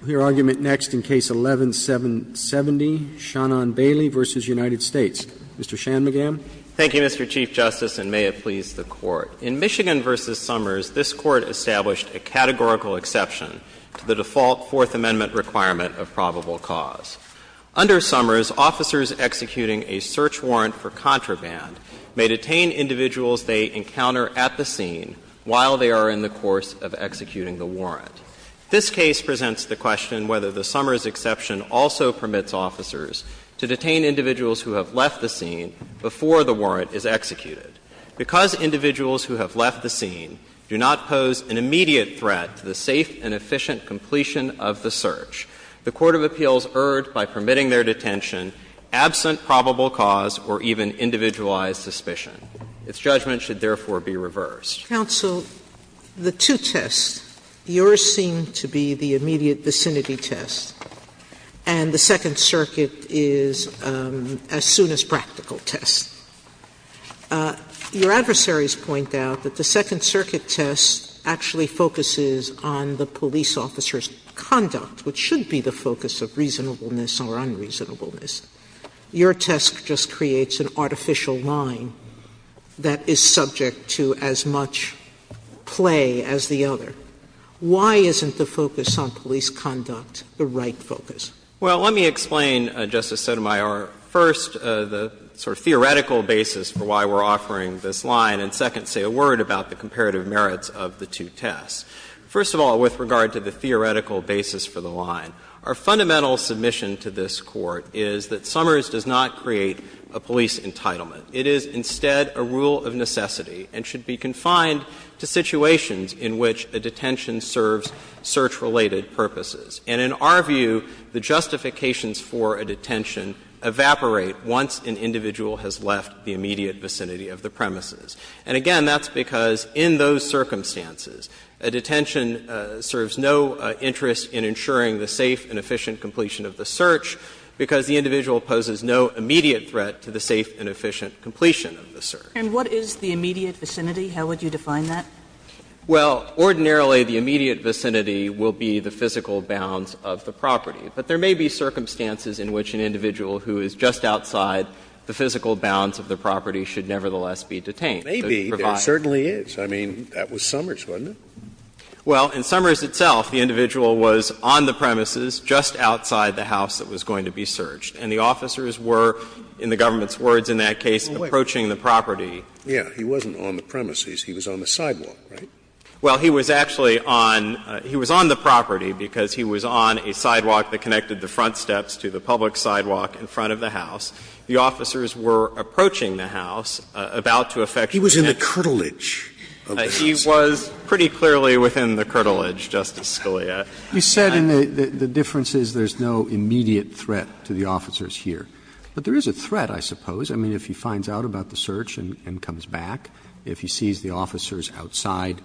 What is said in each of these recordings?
We'll hear argument next in Case 11-770, Shannon Bailey v. United States. Mr. Shanmugam. Thank you, Mr. Chief Justice, and may it please the Court. In Michigan v. Summers, this Court established a categorical exception to the default Fourth Amendment requirement of probable cause. Under Summers, officers executing a search warrant for contraband may detain individuals they encounter at the scene while they are in the course of executing the warrant. This case presents the question whether the Summers exception also permits officers to detain individuals who have left the scene before the warrant is executed. Because individuals who have left the scene do not pose an immediate threat to the safe and efficient completion of the search, the court of appeals erred by permitting their detention absent probable cause or even individualized suspicion. Its judgment should therefore be reversed. Sotomayor, the two tests, yours seem to be the immediate vicinity test, and the Second Circuit is a soon-as-practical test. Your adversaries point out that the Second Circuit test actually focuses on the police officer's conduct, which should be the focus of reasonableness or unreasonableness. Your test just creates an artificial line that is subject to as much play as the other. Why isn't the focus on police conduct the right focus? Well, let me explain, Justice Sotomayor, first, the sort of theoretical basis for why we're offering this line, and second, say a word about the comparative merits of the two tests. First of all, with regard to the theoretical basis for the line, our fundamental submission to this Court is that Summers does not create a police entitlement. It is instead a rule of necessity and should be confined to situations in which a detention serves search-related purposes. And in our view, the justifications for a detention evaporate once an individual has left the immediate vicinity of the premises. And again, that's because in those circumstances, a detention serves no interest in ensuring the safe and efficient completion of the search, because the individual poses no immediate threat to the safe and efficient completion of the search. And what is the immediate vicinity? How would you define that? Well, ordinarily, the immediate vicinity will be the physical bounds of the property. But there may be circumstances in which an individual who is just outside the physical bounds of the property should nevertheless be detained. Maybe. There certainly is. I mean, that was Summers, wasn't it? Well, in Summers itself, the individual was on the premises just outside the house that was going to be searched. And the officers were, in the government's words in that case, approaching the property. Scalia. Yeah. He wasn't on the premises. He was on the sidewalk, right? Well, he was actually on the property, because he was on a sidewalk that connected the front steps to the public sidewalk in front of the house. The officers were approaching the house, about to effect an action. He was in the curtilage of the house. He was pretty clearly within the curtilage, Justice Scalia. You said the difference is there's no immediate threat to the officers here. But there is a threat, I suppose. I mean, if he finds out about the search and comes back, if he sees the officers outside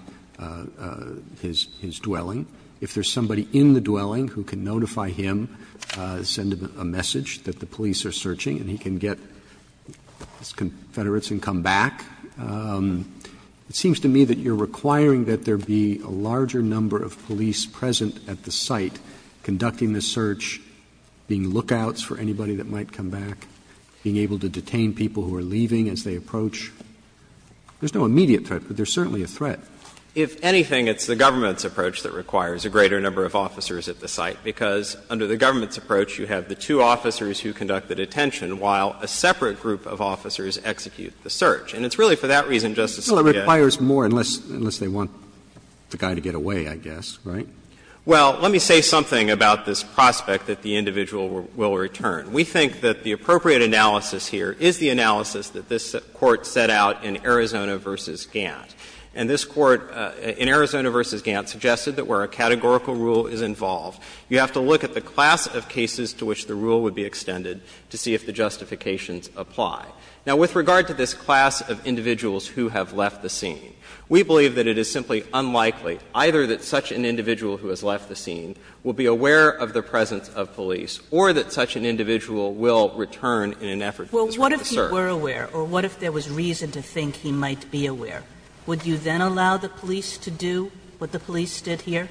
his dwelling, if there's somebody in the dwelling who can notify him, send him a message that the police are searching, and he can get his confederates and come back. It seems to me that you're requiring that there be a larger number of police present at the site conducting the search, being lookouts for anybody that might come back, being able to detain people who are leaving as they approach. There's no immediate threat, but there's certainly a threat. If anything, it's the government's approach that requires a greater number of officers at the site, because under the government's approach, you have the two officers who conduct the detention, while a separate group of officers execute the search. And it's really for that reason, Justice Scalia. Roberts Well, it requires more, unless they want the guy to get away, I guess, right? Shanmugam Well, let me say something about this prospect that the individual will return. We think that the appropriate analysis here is the analysis that this Court set out in Arizona v. Gantt. And this Court in Arizona v. Gantt suggested that where a categorical rule is involved, you have to look at the class of cases to which the rule would be extended to see if the justifications apply. Now, with regard to this class of individuals who have left the scene, we believe that it is simply unlikely either that such an individual who has left the scene will be aware of the presence of police or that such an individual will return in an effort that is right to serve. Kagan Well, what if he were aware, or what if there was reason to think he might be aware? Would you then allow the police to do what the police did here?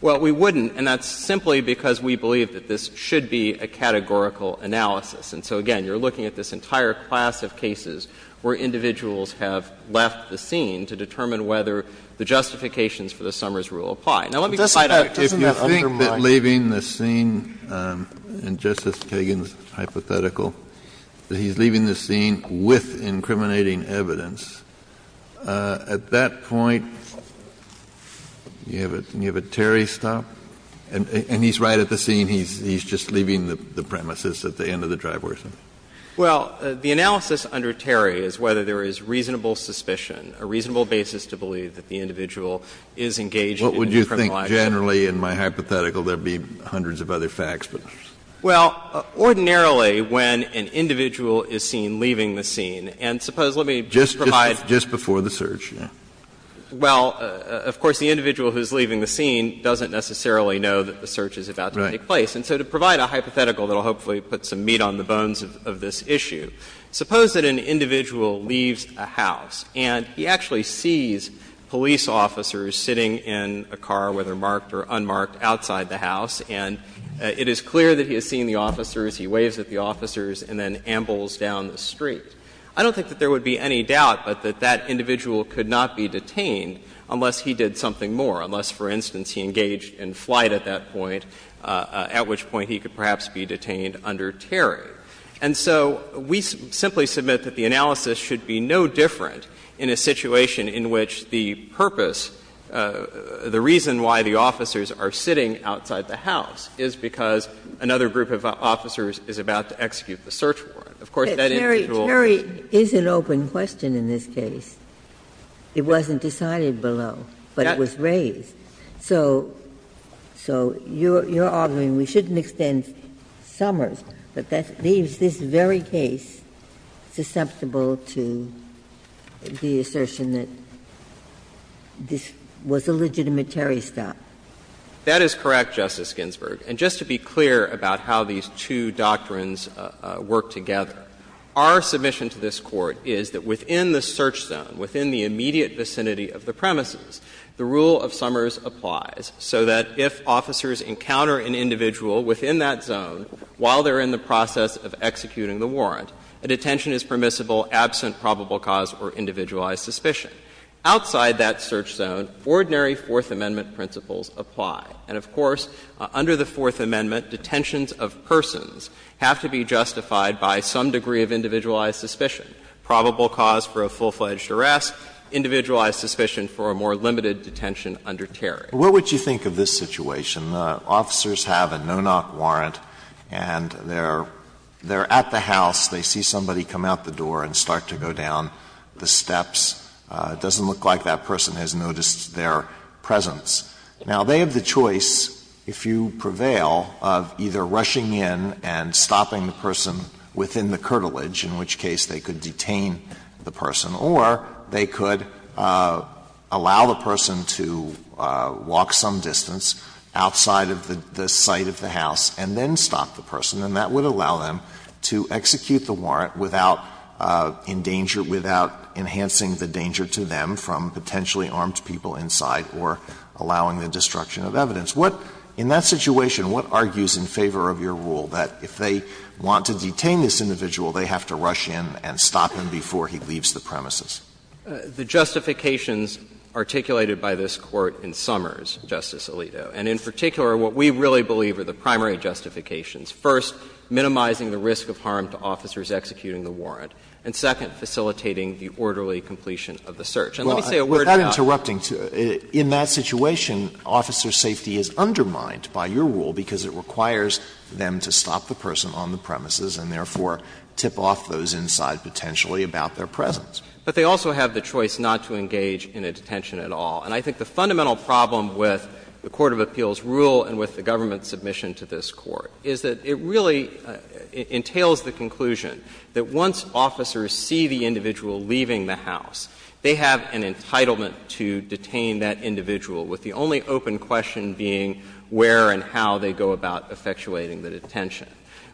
Shanmugam Well, we wouldn't, and that's simply because we believe that this should be a categorical analysis. And so, again, you're looking at this entire class of cases where individuals have left the scene to determine whether the justifications for the Summers rule apply. Now, let me just point out to you that if you think that leaving the scene, in Justice Kagan's hypothetical, that he's leaving the scene with incriminating evidence, at that point, you have a Terry stop, and he's right at the scene, he's just leaving the premises at the end of the trial. And so, to provide a hypothetical that will hopefully put some meat on the boat, evidence. Kennedy Well, the analysis under Terry is whether there is reasonable suspicion, a reasonable basis to believe that the individual is engaged in incriminating evidence. Kennedy What would you think generally in my hypothetical? There would be hundreds of other facts, but. Shanmugam Well, ordinarily, when an individual is seen leaving the scene, and suppose, let me provide. Kennedy Just before the search, yes. Shanmugam Well, of course, the individual who is leaving the scene doesn't necessarily know that the search is about to take place. And so, to provide a hypothetical that will hopefully put some meat on the bones of this issue, suppose that an individual leaves a house, and he actually sees police officers sitting in a car, whether marked or unmarked, outside the house, and it is clear that he has seen the officers, he waves at the officers, and then ambles down the street. I don't think that there would be any doubt but that that individual could not be detained unless he did something more, unless, for instance, he engaged in flight at that point, at which point he could perhaps be detained under Terry. And so we simply submit that the analysis should be no different in a situation in which the purpose, the reason why the officers are sitting outside the house is because another group of officers is about to execute the search warrant. Of course, that individual is not going to be detained. But there is an open question in this case. It wasn't decided below, but it was raised. So you're arguing we shouldn't extend Summers, but that leaves this very case susceptible to the assertion that this was a legitimate Terry stop. That is correct, Justice Ginsburg. And just to be clear about how these two doctrines work together, our submission to this Court is that within the search zone, within the immediate vicinity of the premises, the rule of Summers applies so that if officers encounter an individual within that zone while they're in the process of executing the warrant, a detention is permissible absent probable cause or individualized suspicion. Outside that search zone, ordinary Fourth Amendment principles apply. And, of course, under the Fourth Amendment, detentions of persons have to be justified by some degree of individualized suspicion, probable cause for a full-fledged arrest, individualized suspicion for a more limited detention under Terry. Alitoso, what would you think of this situation? Officers have a no-knock warrant and they're at the house. They see somebody come out the door and start to go down the steps. It doesn't look like that person has noticed their presence. Now, they have the choice, if you prevail, of either rushing in and stopping the person within the curtilage, in which case they could detain the person, or they could allow the person to walk some distance outside of the site of the house and then stop the person, and that would allow them to execute the warrant without endanger, without enhancing the danger to them from potentially armed people inside or allowing the destruction of evidence. What, in that situation, what argues in favor of your rule that if they want to detain this individual, they have to rush in and stop him before he leaves the premises? The justifications articulated by this Court in Summers, Justice Alito, and in particular what we really believe are the primary justifications, first, minimizing the risk of harm to officers executing the warrant, and second, facilitating the orderly And let me say a word about that. In that situation, officer safety is undermined by your rule because it requires them to stop the person on the premises and, therefore, tip off those inside potentially about their presence. But they also have the choice not to engage in a detention at all. And I think the fundamental problem with the court of appeals rule and with the government's submission to this Court is that it really entails the conclusion that once officers see the individual leaving the house, they have an entitlement to detain that individual, with the only open question being where and how they go about effectuating the detention.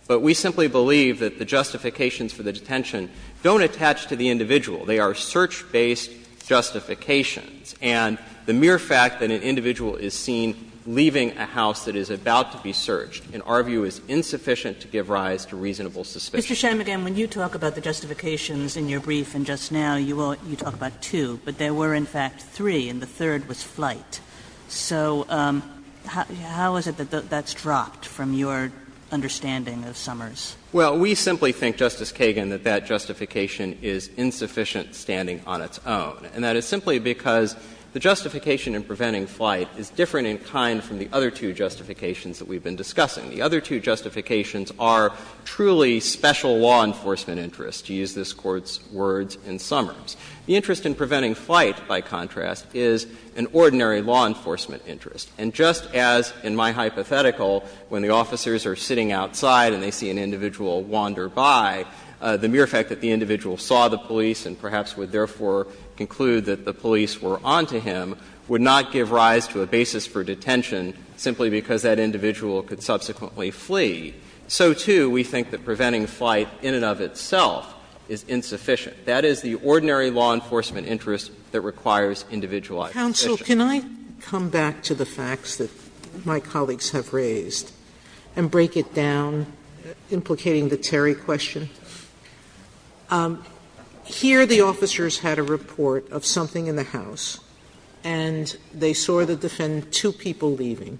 But we simply believe that the justifications for the detention don't attach to the individual. They are search-based justifications. And the mere fact that an individual is seen leaving a house that is about to be searched in our view is insufficient to give rise to reasonable suspicion. Kagan. Mr. Shanmugam, when you talk about the justifications in your brief and just now, you talk about two, but there were, in fact, three, and the third was flight. So how is it that that's dropped from your understanding of Summers? Well, we simply think, Justice Kagan, that that justification is insufficient standing on its own. And that is simply because the justification in preventing flight is different in kind from the other two justifications that we've been discussing. The other two justifications are truly special law enforcement interests, to use this Court's words in Summers. The interest in preventing flight, by contrast, is an ordinary law enforcement interest. And just as in my hypothetical, when the officers are sitting outside and they see an individual wander by, the mere fact that the individual saw the police and perhaps would therefore conclude that the police were on to him would not give rise to a basis for detention simply because that individual could subsequently flee, so, too, we think that preventing flight in and of itself is insufficient. That is the ordinary law enforcement interest that requires individualized suspicion. Sotomayor, can I come back to the facts that my colleagues have raised and break it down, implicating the Terry question? Here the officers had a report of something in the house, and they saw the defendant with two people leaving.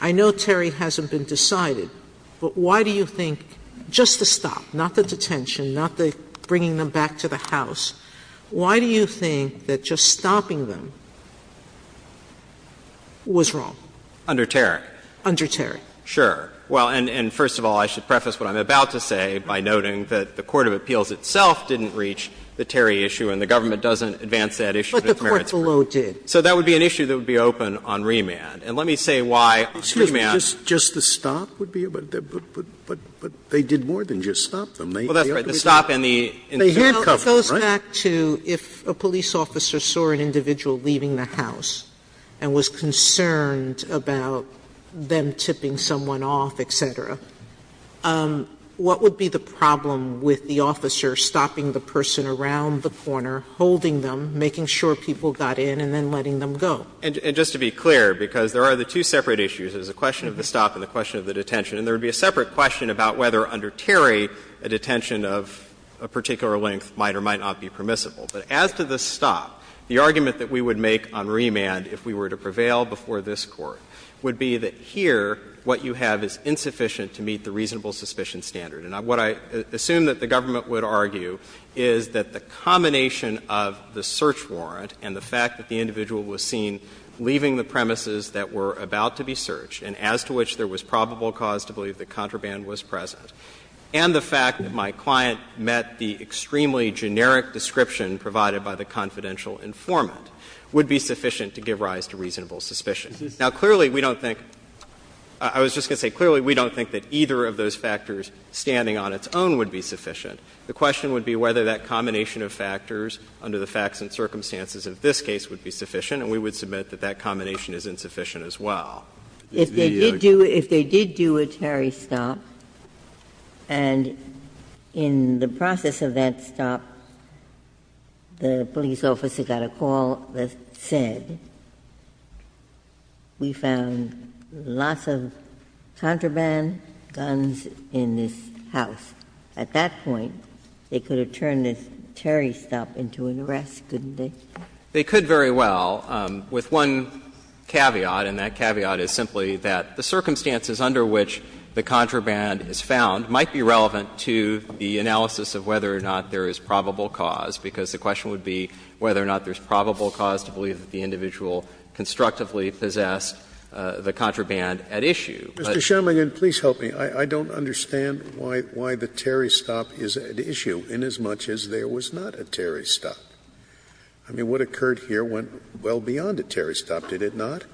I know Terry hasn't been decided, but why do you think, just to stop, not the detention, not the bringing them back to the house, why do you think that just stopping them was wrong? Under Terry. Under Terry. Sure. Well, and first of all, I should preface what I'm about to say by noting that the court of appeals itself didn't reach the Terry issue, and the government doesn't advance that issue. But the court below did. So that would be an issue that would be open on remand. And let me say why on remand. Excuse me. Just the stop would be a bit, but they did more than just stop them. Well, that's right. The stop and the intervention. Well, it goes back to if a police officer saw an individual leaving the house and was concerned about them tipping someone off, et cetera, what would be the problem with the officer stopping the person around the corner, holding them, making sure people got in, and then letting them go? And just to be clear, because there are the two separate issues, there's a question of the stop and the question of the detention. And there would be a separate question about whether under Terry a detention of a particular length might or might not be permissible. But as to the stop, the argument that we would make on remand if we were to prevail before this Court would be that here what you have is insufficient to meet the reasonable suspicion standard. And what I assume that the government would argue is that the combination of the search warrant and the fact that the individual was seen leaving the premises that were about to be searched and as to which there was probable cause to believe that contraband was present, and the fact that my client met the extremely generic description provided by the confidential informant would be sufficient to give rise to reasonable suspicion. Now, clearly, we don't think — I was just going to say, clearly, we don't think that either of those factors standing on its own would be sufficient. The question would be whether that combination of factors under the facts and circumstances of this case would be sufficient, and we would submit that that combination is insufficient as well. Ginsburg. If they did do a Terry stop, and in the process of that stop, the police officer got a call that said, we found lots of contraband guns in this house. At that point, they could have turned this Terry stop into an arrest, couldn't they? They could very well, with one caveat, and that caveat is simply that the circumstances under which the contraband is found might be relevant to the analysis of whether or not there is probable cause, because the question would be whether or not there is probable cause to believe that the individual constructively possessed the contraband at issue. Scalia. Mr. Shermangan, please help me. I don't understand why the Terry stop is at issue, inasmuch as there was not a Terry stop. I mean, what occurred here went well beyond a Terry stop, did it not?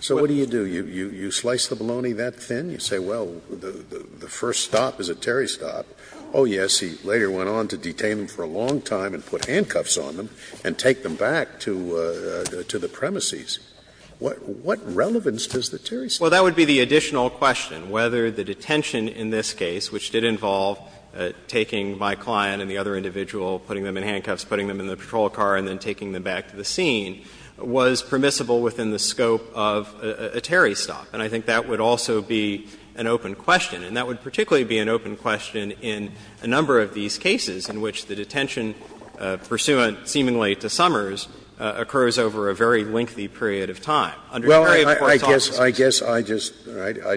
So what do you do? You slice the bologna that thin, you say, well, the first stop is a Terry stop. Oh, yes, he later went on to detain them for a long time and put handcuffs on them and take them back to the premises. What relevance does the Terry stop have? Well, that would be the additional question, whether the detention in this case, which did involve taking my client and the other individual, putting them in handcuffs, putting them in the patrol car and then taking them back to the scene, was permissible within the scope of a Terry stop. And I think that would also be an open question, and that would particularly be an open question in a number of these cases in which the detention, pursuant seemingly to Summers, occurs over a very lengthy period of time. Under Terry, of course, all of this is the same. Scalia, I guess I just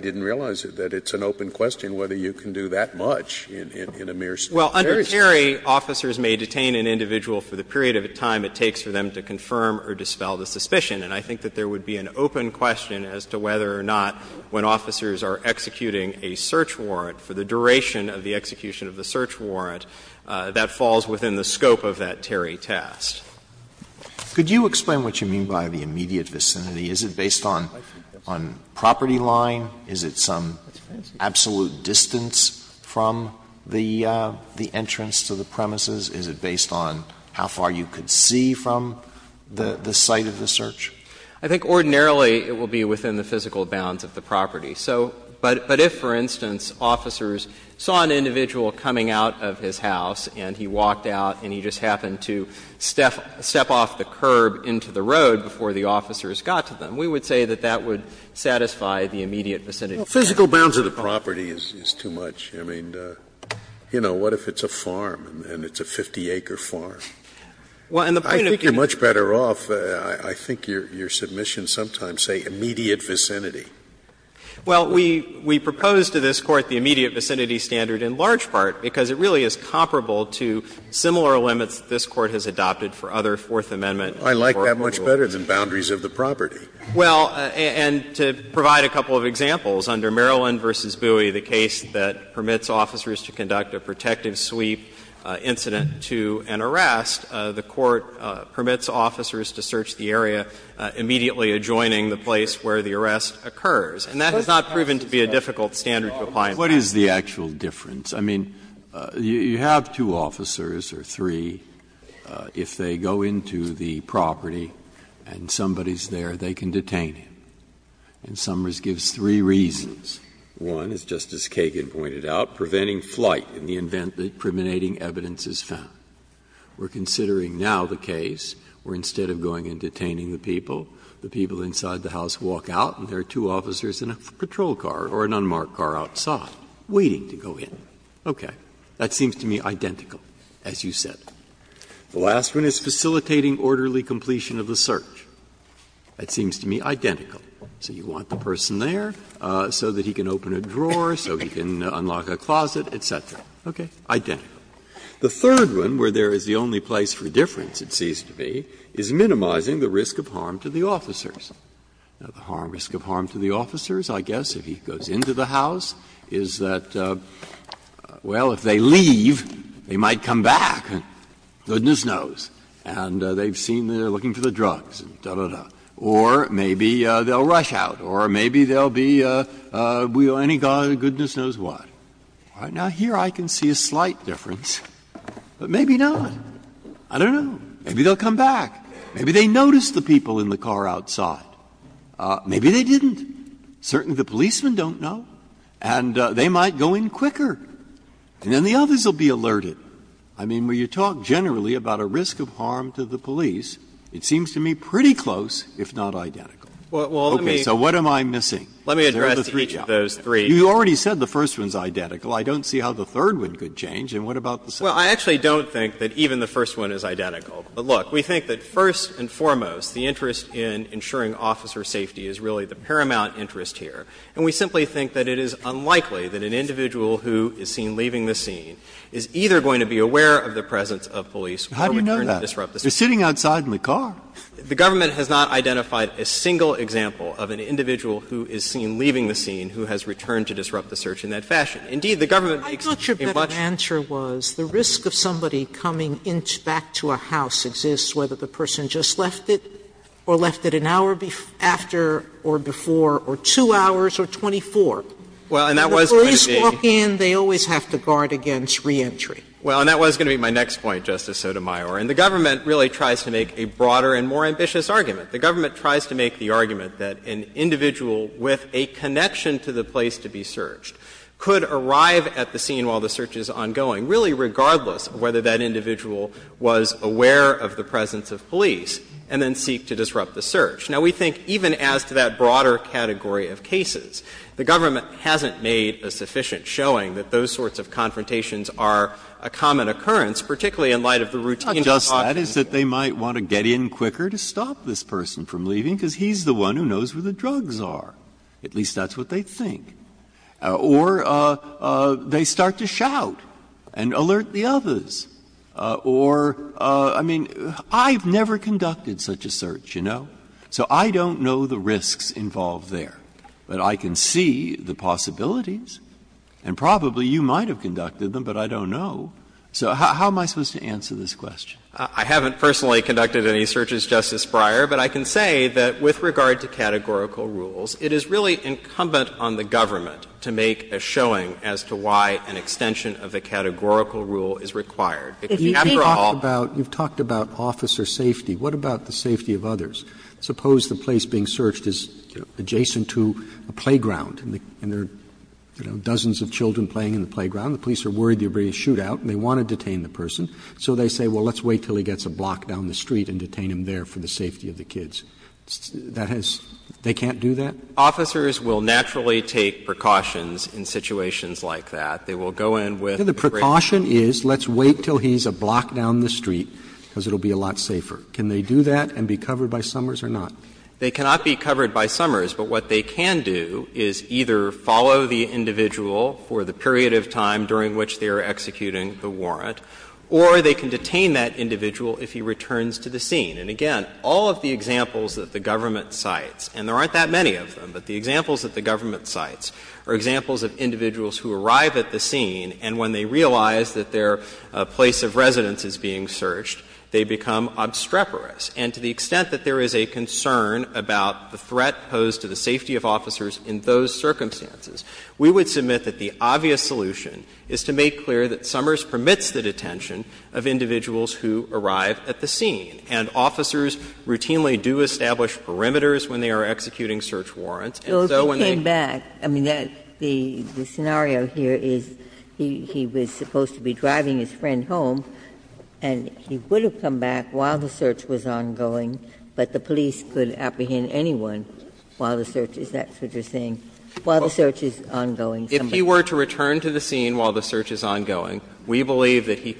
didn't realize it, that it's an open question whether you can do that much in a mere Terry stop. Well, under Terry, officers may detain an individual for the period of time it takes for them to confirm or dispel the suspicion. And I think that there would be an open question as to whether or not, when officers are executing a search warrant, for the duration of the execution of the search warrant, that falls within the scope of that Terry test. Could you explain what you mean by the immediate vicinity? Is it based on property line? Is it some absolute distance from the entrance to the premises? Is it based on how far you could see from the site of the search? I think ordinarily it will be within the physical bounds of the property. So, but if, for instance, officers saw an individual coming out of his house and he walked out and he just happened to step off the curb into the road before the officers got to them, we would say that that would satisfy the immediate vicinity standard. Scalia, well, physical bounds of the property is too much. I mean, you know, what if it's a farm and it's a 50-acre farm? I think you're much better off, I think your submissions sometimes say immediate vicinity. Well, we propose to this Court the immediate vicinity standard in large part because it really is comparable to similar limits that this Court has adopted for other Fourth Amendment court procedures. I like that much better than boundaries of the property. Well, and to provide a couple of examples, under Maryland v. Bowie, the case that permits officers to conduct a protective sweep incident to an arrest, the Court permits officers to search the area immediately adjoining the place where the arrest occurs, and that has not proven to be a difficult standard to apply in practice. What is the actual difference? I mean, you have two officers, or three, if they go into the property and somebody is there, they can detain him, and Summers gives three reasons. One, as Justice Kagan pointed out, preventing flight in the event that impriminating evidence is found. We're considering now the case where instead of going and detaining the people, the people inside the house walk out and there are two officers in a patrol car or a police car. Okay. That seems to me identical, as you said. The last one is facilitating orderly completion of the search. That seems to me identical. So you want the person there so that he can open a drawer, so he can unlock a closet, et cetera. Okay. Identical. The third one, where there is the only place for difference, it seems to me, is minimizing the risk of harm to the officers. The risk of harm to the officers, I guess, if he goes into the house, is that, well, if they leave, they might come back, goodness knows, and they've seen that they're looking for the drugs, da, da, da. Or maybe they'll rush out, or maybe they'll be, goodness knows what. Now, here I can see a slight difference, but maybe not. I don't know. Maybe they'll come back. Maybe they noticed the people in the car outside. Maybe they didn't. Certainly the policemen don't know. And they might go in quicker. And then the others will be alerted. I mean, when you talk generally about a risk of harm to the police, it seems to me pretty close, if not identical. Okay. So what am I missing? You already said the first one is identical. I don't see how the third one could change. And what about the second? Well, I actually don't think that even the first one is identical. But look, we think that first and foremost, the interest in ensuring officer safety is really the paramount interest here. And we simply think that it is unlikely that an individual who is seen leaving the scene is either going to be aware of the presence of police or return to disrupt the search. How do you know that? They're sitting outside in the car. The government has not identified a single example of an individual who is seen leaving the scene who has returned to disrupt the search in that fashion. Indeed, the government makes a much more clear distinction. Sotomayor, and the government really tries to make a broader and more ambitious argument. The government tries to make the argument that an individual with a connection to the place to be searched could arrive at the scene while the search is ongoing, argument here. And we think that even as to that broader category of cases, the government hasn't made a sufficient showing that those sorts of confrontations are a common occurrence, particularly in light of the routine that's often seen. Breyer, not just that, is that they might want to get in quicker to stop this person from leaving because he's the one who knows where the drugs are, at least that's what they think. Or they start to shout and alert the others. Or, I mean, I've never conducted such a search, you know, so I don't know the risks involved there. But I can see the possibilities, and probably you might have conducted them, but I don't know. So how am I supposed to answer this question? I haven't personally conducted any searches, Justice Breyer, but I can say that with regard to categorical rules, it is really incumbent on the government to make a showing as to why an extension of a categorical rule is required. If you have to offer all of them, it's not a categorical rule, it's a categorical rule. Roberts, you've talked about officer safety. What about the safety of others? Suppose the place being searched is adjacent to a playground and there are dozens of children playing in the playground. The police are worried they're going to shoot out and they want to detain the person. So they say, well, let's wait until he gets a block down the street and detain him there for the safety of the kids. That has to be a categorical rule. They can't do that? Officers will naturally take precautions in situations like that. They will go in with the great fear. Roberts, the precaution is let's wait until he's a block down the street, because it will be a lot safer. Can they do that and be covered by Summers or not? They cannot be covered by Summers, but what they can do is either follow the individual for the period of time during which they are executing the warrant, or they can detain that individual if he returns to the scene. And again, all of the examples that the government cites, and there aren't that many of them, but the examples that the government cites are examples of individuals who arrive at the scene and when they realize that their place of residence is being searched, they become obstreperous. And to the extent that there is a concern about the threat posed to the safety of officers in those circumstances, we would submit that the obvious solution is to make clear that Summers permits the detention of individuals who arrive at the scene. And officers routinely do establish perimeters when they are executing search warrants. And so when they came back, I mean, the scenario here is he was supposed to be driving his friend home, and he would have come back while the search was ongoing, but the police could apprehend anyone while the search is that sort of thing, while the search is ongoing. If he were to return to the scene while the search is ongoing, we believe that he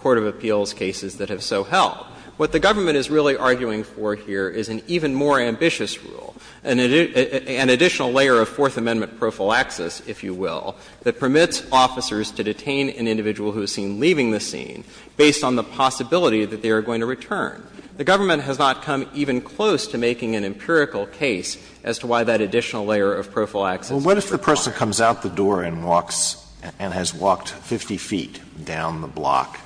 Court of Appeals cases that have so held. What the government is really arguing for here is an even more ambitious rule, an additional layer of Fourth Amendment prophylaxis, if you will, that permits officers to detain an individual who is seen leaving the scene based on the possibility that they are going to return. The government has not come even close to making an empirical case as to why that additional layer of prophylaxis is required. Alitoso, what if the person comes out the door and walks and has walked 50 feet down the block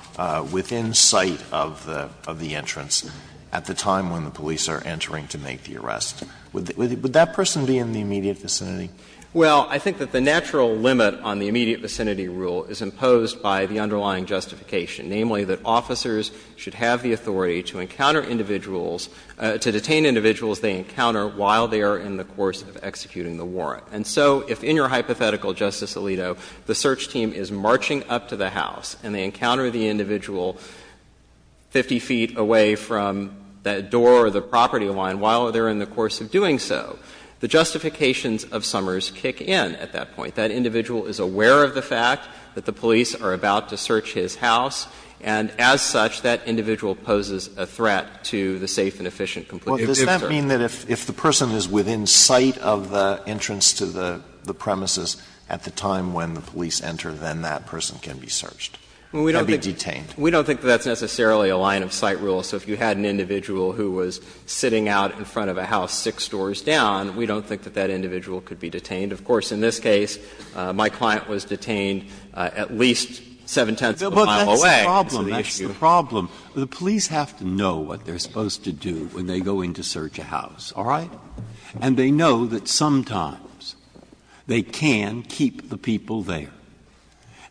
within sight of the entrance at the time when the police are entering to make the arrest? Would that person be in the immediate vicinity? Well, I think that the natural limit on the immediate vicinity rule is imposed by the underlying justification, namely that officers should have the authority to encounter individuals, to detain individuals they encounter while they are in the course of executing the warrant. And so if in your hypothetical, Justice Alito, the search team is marching up to the house and they encounter the individual 50 feet away from that door or the property line while they are in the course of doing so, the justifications of Summers kick in at that point. That individual is aware of the fact that the police are about to search his house, and as such, that individual poses a threat to the safe and efficient completion of the search. Alitoso, does that mean that if the person is within sight of the entrance to the premises at the time when the police enter, then that person can be searched and be detained? We don't think that's necessarily a line-of-sight rule. So if you had an individual who was sitting out in front of a house six doors down, we don't think that that individual could be detained. Of course, in this case, my client was detained at least seven-tenths of a mile away. That's the issue. But that's the problem. The police have to know what they are supposed to do when they go in to search a house, all right? And they know that sometimes they can keep the people there.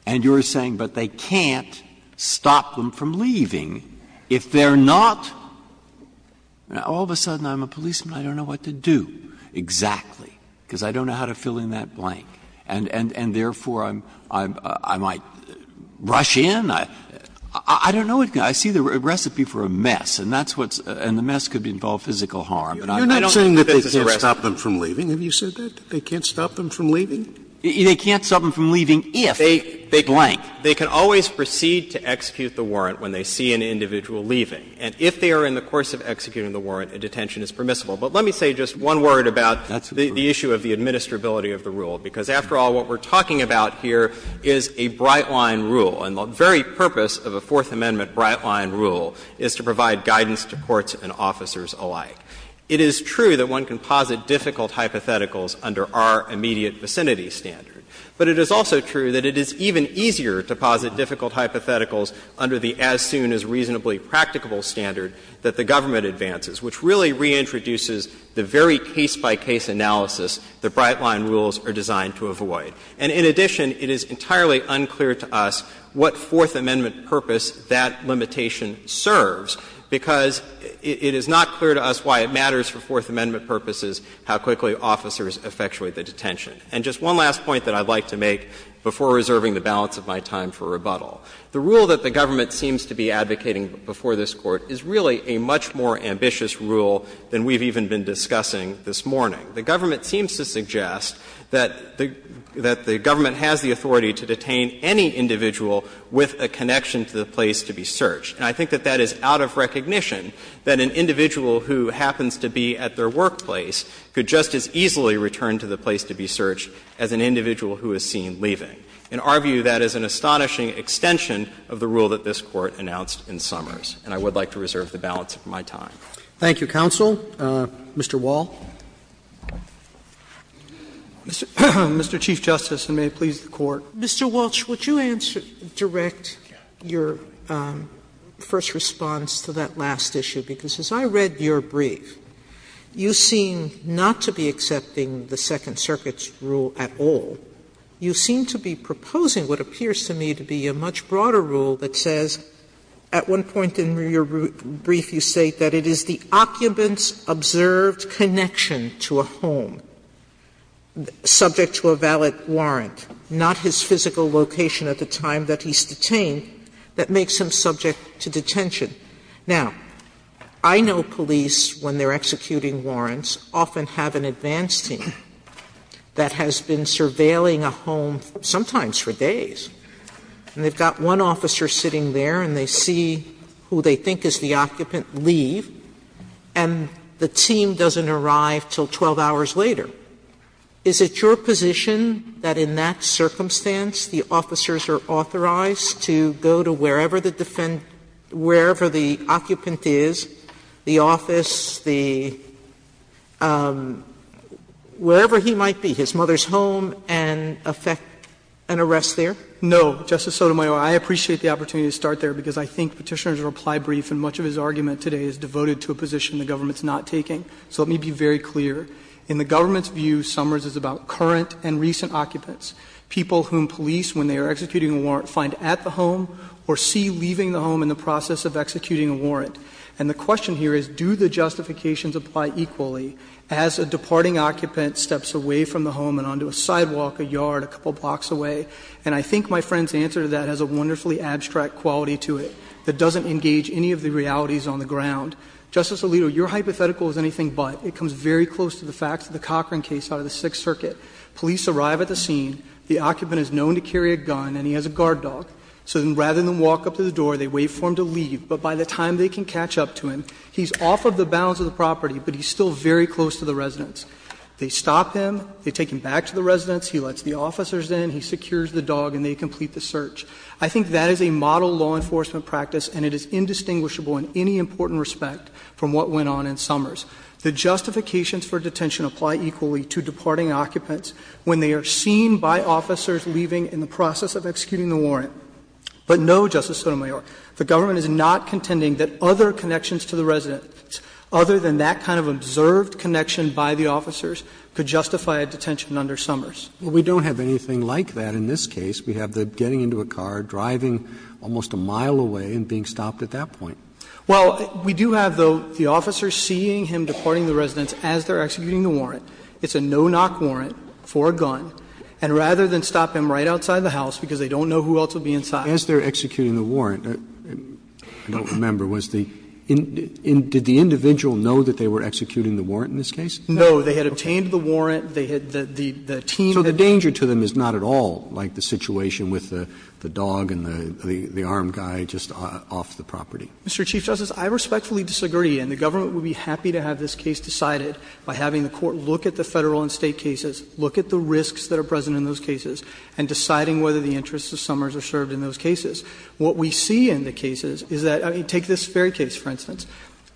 And you are saying, but they can't stop them from leaving if they are not — all of a sudden I'm a policeman, I don't know what to do exactly, because I don't know how to fill in that blank. And therefore, I might rush in. I don't know what to do. I see the recipe for a mess, and that's what's — and the mess could involve physical harm. And I don't think this is a recipe. Scalia, you're not saying that they can't stop them from leaving. Have you said that, that they can't stop them from leaving? They can't stop them from leaving if they blank. They can always proceed to execute the warrant when they see an individual leaving. And if they are in the course of executing the warrant, a detention is permissible. But let me say just one word about the issue of the administrability of the rule. Because, after all, what we're talking about here is a bright-line rule. And the very purpose of a Fourth Amendment bright-line rule is to provide guidance to courts and officers alike. It is true that one can posit difficult hypotheticals under our immediate vicinity standard. But it is also true that it is even easier to posit difficult hypotheticals under the as-soon-as-reasonably-practicable standard that the government advances, which really reintroduces the very case-by-case analysis that bright-line rules are designed to avoid. And in addition, it is entirely unclear to us what Fourth Amendment purpose that limitation serves, because it is not clear to us why it matters for Fourth Amendment purposes how quickly officers effectuate the detention. And just one last point that I'd like to make before reserving the balance of my time for rebuttal. The rule that the government seems to be advocating before this Court is really a much more ambitious rule than we've even been discussing this morning. The government seems to suggest that the government has the authority to detain any individual with a connection to the place to be searched. And I think that that is out of recognition, that an individual who happens to be at their workplace could just as easily return to the place to be searched as an individual who is seen leaving. In our view, that is an astonishing extension of the rule that this Court announced in Summers. And I would like to reserve the balance of my time. Roberts. Thank you, counsel. Mr. Wall. Mr. Chief Justice, and may it please the Court. Mr. Walsh, would you answer, direct your first response to that last issue? Because as I read your brief, you seem not to be accepting the Second Circuit's rule at all. You seem to be proposing what appears to me to be a much broader rule that says, at one point in your brief, you state that it is the occupant's observed connection to a home subject to a valid warrant, not his physical location at the time that he's detained that makes him subject to detention. Now, I know police, when they're executing warrants, often have an advance team that has been surveilling a home, sometimes for days, and they've got one officer sitting there, and they see who they think is the occupant leave, and the team doesn't arrive until 12 hours later. Is it your position that in that circumstance the officers are authorized to go to wherever the occupant is, the office, the – wherever he might be, his mother's home, and effect an arrest there? No, Justice Sotomayor. I appreciate the opportunity to start there, because I think Petitioner's reply brief and much of his argument today is devoted to a position the government's not taking. So let me be very clear. In the government's view, Summers is about current and recent occupants, people whom police, when they are executing a warrant, find at the home or see leaving the home in the process of executing a warrant. And the question here is, do the justifications apply equally as a departing occupant steps away from the home and onto a sidewalk, a yard, a couple blocks away? And I think my friend's answer to that has a wonderfully abstract quality to it that doesn't engage any of the realities on the ground. Justice Alito, your hypothetical is anything but. It comes very close to the facts of the Cochran case out of the Sixth Circuit. Police arrive at the scene. The occupant is known to carry a gun, and he has a guard dog. So rather than walk up to the door, they wait for him to leave. But by the time they can catch up to him, he's off of the bounds of the property, but he's still very close to the residence. They stop him. They take him back to the residence. He lets the officers in. He secures the dog, and they complete the search. I think that is a model law enforcement practice, and it is indistinguishable in any important respect from what went on in Summers. The justifications for detention apply equally to departing occupants when they are seen by officers leaving in the process of executing the warrant. But no, Justice Sotomayor, the government is not contending that other connections to the residence, other than that kind of observed connection by the officers, could justify a detention under Summers. Roberts Well, we don't have anything like that in this case. We have the getting into a car, driving almost a mile away, and being stopped at that point. Well, we do have, though, the officer seeing him departing the residence as they are executing the warrant. It's a no-knock warrant for a gun. And rather than stop him right outside the house, because they don't know who else will be inside. As they are executing the warrant, I don't remember, was the individual know that they were executing the warrant in this case? No. They had obtained the warrant. They had the team. So the danger to them is not at all like the situation with the dog and the armed guy just off the property. Mr. Chief Justice, I respectfully disagree, and the government would be happy to have this case decided by having the Court look at the Federal and State cases, look at the risks that are present in those cases, and deciding whether the interests of Summers are served in those cases. What we see in the cases is that, I mean, take this Ferry case, for instance.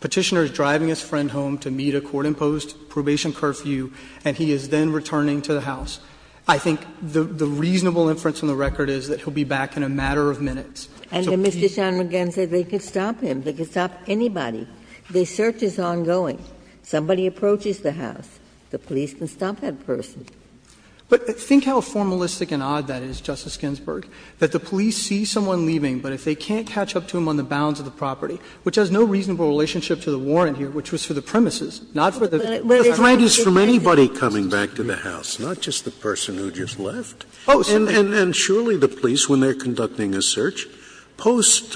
Petitioner is driving his friend home to meet a court-imposed probation curfew, and he is then returning to the house. I think the reasonable inference on the record is that he will be back in a matter of minutes. So please. Ginsburg. And Mr. John McGahn said they could stop him. They could stop anybody. The search is ongoing. Somebody approaches the house. The police can stop that person. But think how formalistic and odd that is, Justice Ginsburg, that the police see someone leaving, but if they can't catch up to him on the bounds of the property, which has no reasonable relationship to the warrant here, which was for the premises, not for the property. Scalia. But the threat is from anybody coming back to the house, not just the person who just left. And surely the police, when they are conducting a search, post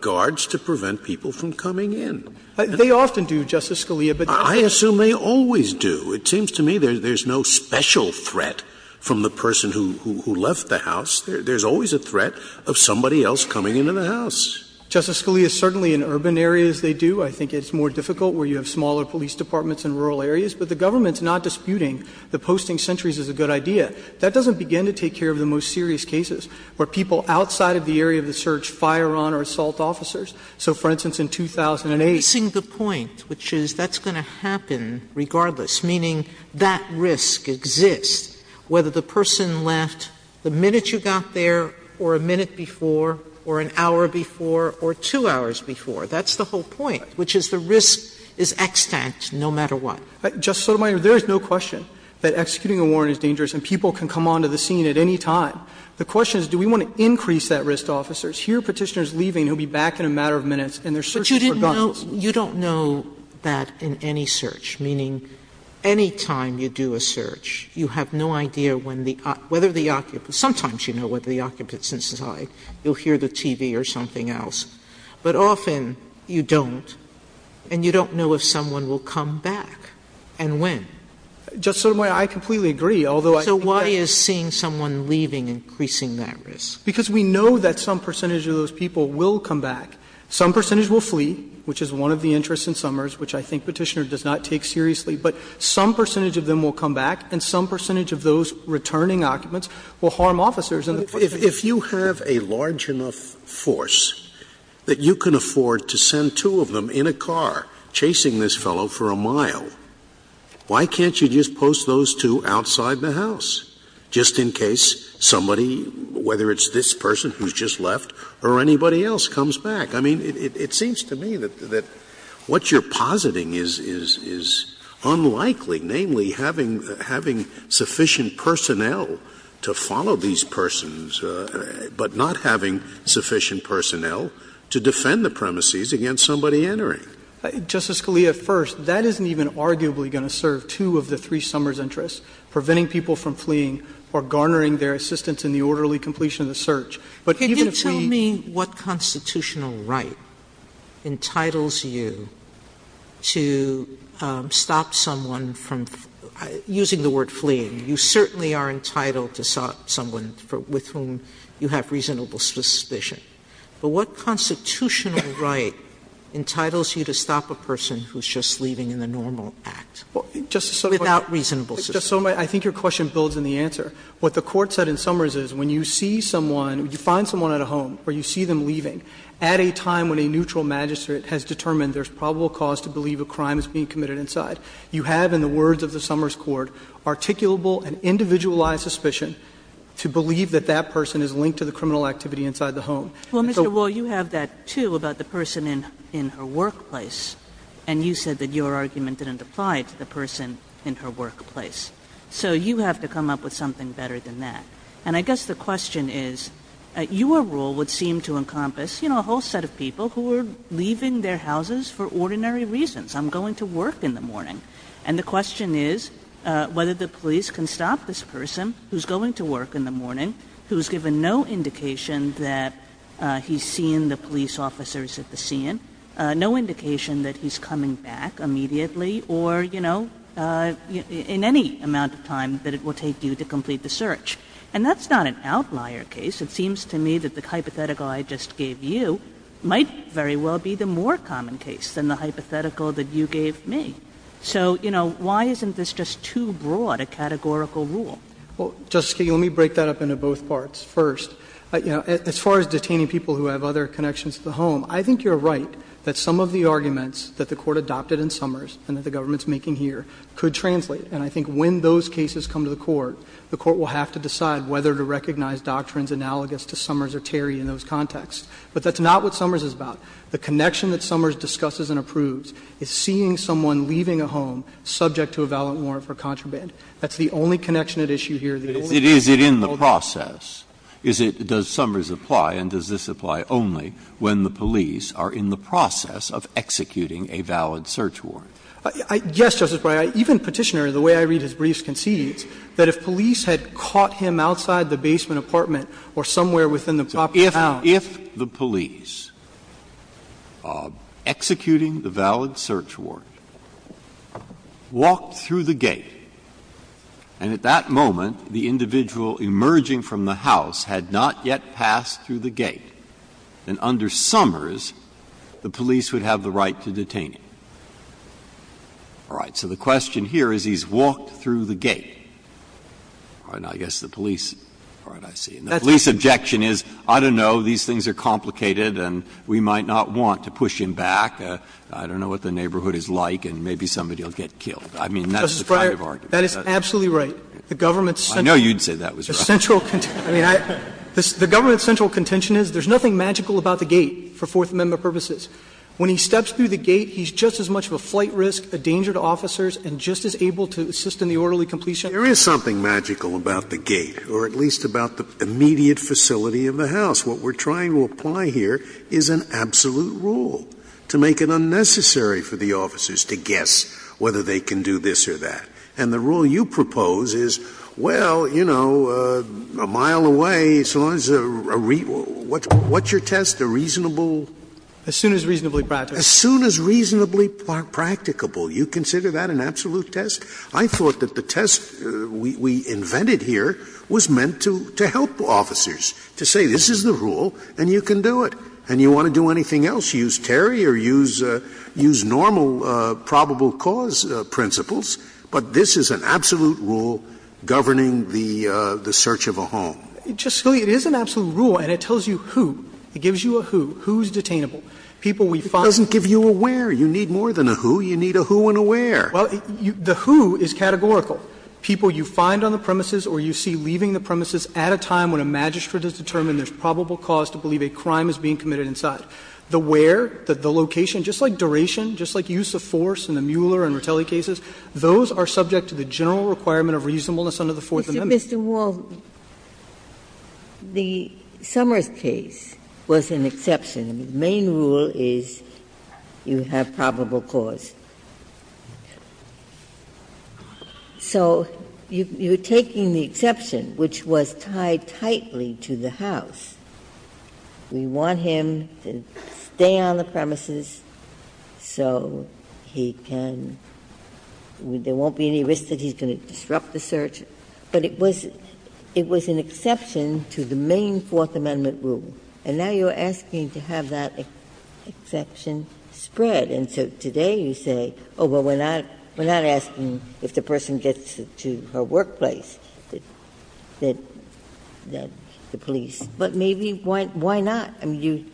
guards to prevent people from coming in. They often do, Justice Scalia, but they don't do it. I assume they always do. It seems to me there is no special threat from the person who left the house. There is always a threat of somebody else coming into the house. Justice Scalia, certainly in urban areas they do. I think it's more difficult where you have smaller police departments in rural areas. But the government's not disputing that posting sentries is a good idea. That doesn't begin to take care of the most serious cases where people outside of the area of the search fire on or assault officers. So, for instance, in 2008. Sotomayor, missing the point, which is that's going to happen regardless, meaning that risk exists, whether the person left the minute you got there or a minute before or an hour before or two hours before. That's the whole point. Which is the risk is extant no matter what. Justice Sotomayor, there is no question that executing a warrant is dangerous and people can come onto the scene at any time. The question is do we want to increase that risk to officers? Here a Petitioner is leaving, he'll be back in a matter of minutes and they're searching for guns. Sotomayor, you don't know that in any search, meaning any time you do a search, you have no idea when the occupant, sometimes you know when the occupant is inside, you'll hear the TV or something else. But often you don't and you don't know if someone will come back and when. Just Sotomayor, I completely agree, although I think that's So why is seeing someone leaving increasing that risk? Because we know that some percentage of those people will come back. Some percentage will flee, which is one of the interests in Summers, which I think Petitioner does not take seriously. But some percentage of them will come back and some percentage of those returning occupants will harm officers. Scalia, if you have a large enough force that you can afford to send two of them in a car chasing this fellow for a mile, why can't you just post those two outside the house, just in case somebody, whether it's this person who's just left or anybody else, comes back? I mean, it seems to me that what you're positing is unlikely, namely, having sufficient personnel to follow these persons, but not having sufficient personnel to defend the premises against somebody entering. Justice Scalia, first, that isn't even arguably going to serve two of the three Summers' interests, preventing people from fleeing or garnering their assistance in the orderly completion of the search. But even if we Can you tell me what constitutional right entitles you to stop someone from, using the word fleeing, you certainly are entitled to stop someone with whom you have reasonable suspicion, but what constitutional right entitles you to stop a person who's just leaving in the normal act without reasonable suspicion? I think your question builds on the answer. What the Court said in Summers is when you see someone, you find someone at a home where you see them leaving, at a time when a neutral magistrate has determined there's probable cause to believe a crime is being committed inside, you have in the case, articulable and individualized suspicion to believe that that person is linked to the criminal activity inside the home. And so Well, Mr. Rule, you have that, too, about the person in her workplace, and you said that your argument didn't apply to the person in her workplace. So you have to come up with something better than that. And I guess the question is, your rule would seem to encompass, you know, a whole set of people who are leaving their houses for ordinary reasons. I'm going to work in the morning. And the question is whether the police can stop this person who's going to work in the morning, who's given no indication that he's seen the police officers at the scene, no indication that he's coming back immediately or, you know, in any amount of time that it will take you to complete the search. And that's not an outlier case. It seems to me that the hypothetical I just gave you might very well be the more common case than the hypothetical that you gave me. So, you know, why isn't this just too broad a categorical rule? Well, Justice Kagan, let me break that up into both parts. First, you know, as far as detaining people who have other connections to the home, I think you're right that some of the arguments that the Court adopted in Summers and that the government's making here could translate. And I think when those cases come to the Court, the Court will have to decide whether to recognize doctrines analogous to Summers or Terry in those contexts. But that's not what Summers is about. The connection that Summers discusses and approves is seeing someone leaving a home subject to a valid warrant for contraband. That's the only connection at issue here. The only connection that the Court can hold on to. Breyer. Is it in the process? Does Summers apply and does this apply only when the police are in the process of executing a valid search warrant? Yes, Justice Breyer. Even Petitioner, the way I read his briefs, concedes that if police had caught him outside the basement apartment or somewhere within the proper town. If the police, executing the valid search warrant, walked through the gate and at that moment the individual emerging from the house had not yet passed through the gate, then under Summers the police would have the right to detain him. All right. So the question here is he's walked through the gate. All right. Now, I guess the police are not seeing. The police objection is, I don't know, these things are complicated and we might not want to push him back. I don't know what the neighborhood is like and maybe somebody will get killed. I mean, that's the kind of argument. Justice Breyer, that is absolutely right. The government's central. I know you'd say that was right. The central contention is there's nothing magical about the gate for Fourth Amendment purposes. When he steps through the gate, he's just as much of a flight risk, a danger to officers and just as able to assist in the orderly completion. There is something magical about the gate or at least about the immediate facility of the house. What we're trying to apply here is an absolute rule to make it unnecessary for the officers to guess whether they can do this or that. And the rule you propose is, well, you know, a mile away. So what's your test? A reasonable? As soon as reasonably practical. As soon as reasonably practicable. You consider that an absolute test? I thought that the test we invented here was meant to help officers, to say this is the rule and you can do it. And you want to do anything else, use Terry or use normal probable cause principles, but this is an absolute rule governing the search of a home. It is an absolute rule and it tells you who. It gives you a who. Who's detainable. People we find. It doesn't give you a where. You need more than a who. You need a who and a where. Well, the who is categorical. People you find on the premises or you see leaving the premises at a time when a magistrate has determined there's probable cause to believe a crime is being committed inside. The where, the location, just like duration, just like use of force in the Mueller and Ratelli cases, those are subject to the general requirement of reasonableness under the Fourth Amendment. Ginsburg. Mr. Walton, the Summers case was an exception. The main rule is you have probable cause. So you're taking the exception, which was tied tightly to the house. We want him to stay on the premises so he can be at risk that he's going to disrupt the search. But it was an exception to the main Fourth Amendment rule. And now you're asking to have that exception spread. And so today you say, oh, well, we're not asking if the person gets to her workplace, the police. But maybe why not? I mean,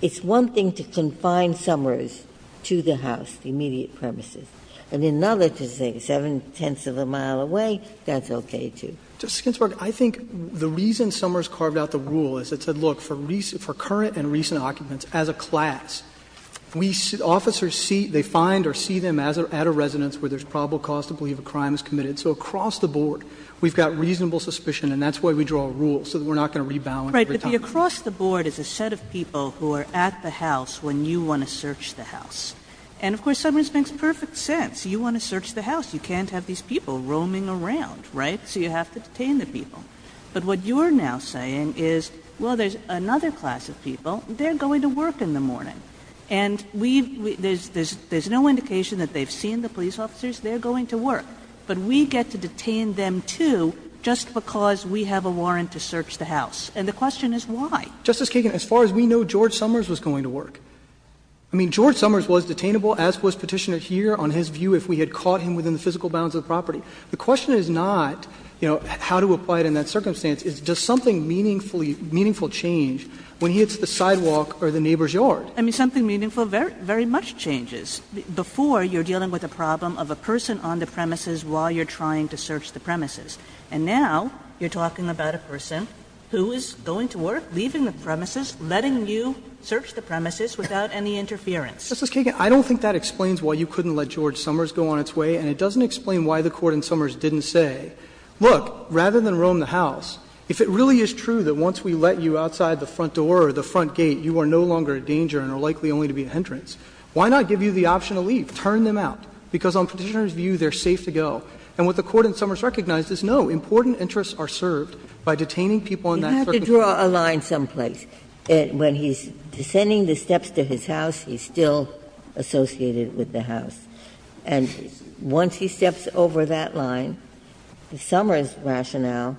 it's one thing to confine Summers to the house, the immediate premises, and another to say seven-tenths of a mile away, that's okay, too. Mr. Walton. I think the reason Summers carved out the rule is it said, look, for current and recent occupants, as a class. We see the officers see, they find or see them at a residence where there's probable cause to believe a crime is committed. So across the board, we've got reasonable suspicion, and that's why we draw a rule, so that we're not going to rebalance every time. Kagan. But the across the board is a set of people who are at the house when you want to search the house. And of course, Summers makes perfect sense. You want to search the house. You can't have these people roaming around, right? So you have to detain the people. But what you're now saying is, well, there's another class of people. They're going to work in the morning. And we've – there's no indication that they've seen the police officers. They're going to work. But we get to detain them, too, just because we have a warrant to search the house. And the question is why? Justice Kagan, as far as we know, George Summers was going to work. I mean, George Summers was detainable, as was Petitioner here, on his view, if we had caught him within the physical bounds of the property. The question is not, you know, how to apply it in that circumstance. It's does something meaningful change when he hits the sidewalk or the neighbor's yard? I mean, something meaningful very much changes before you're dealing with a problem of a person on the premises while you're trying to search the premises. And now you're talking about a person who is going to work, leaving the premises, letting you search the premises without any interference. Justice Kagan, I don't think that explains why you couldn't let George Summers go on its way. And it doesn't explain why the Court in Summers didn't say, look, rather than roam the house, if it really is true that once we let you outside the front door or the front door, you're going to be a hindrance, why not give you the option to leave? Turn them out. Because on Petitioner's view, they're safe to go. And what the Court in Summers recognized is, no, important interests are served by detaining people in that circumstance. Ginsburg. Ginsburg. You have to draw a line someplace. When he's descending the steps to his house, he's still associated with the house. And once he steps over that line, the Summers rationale,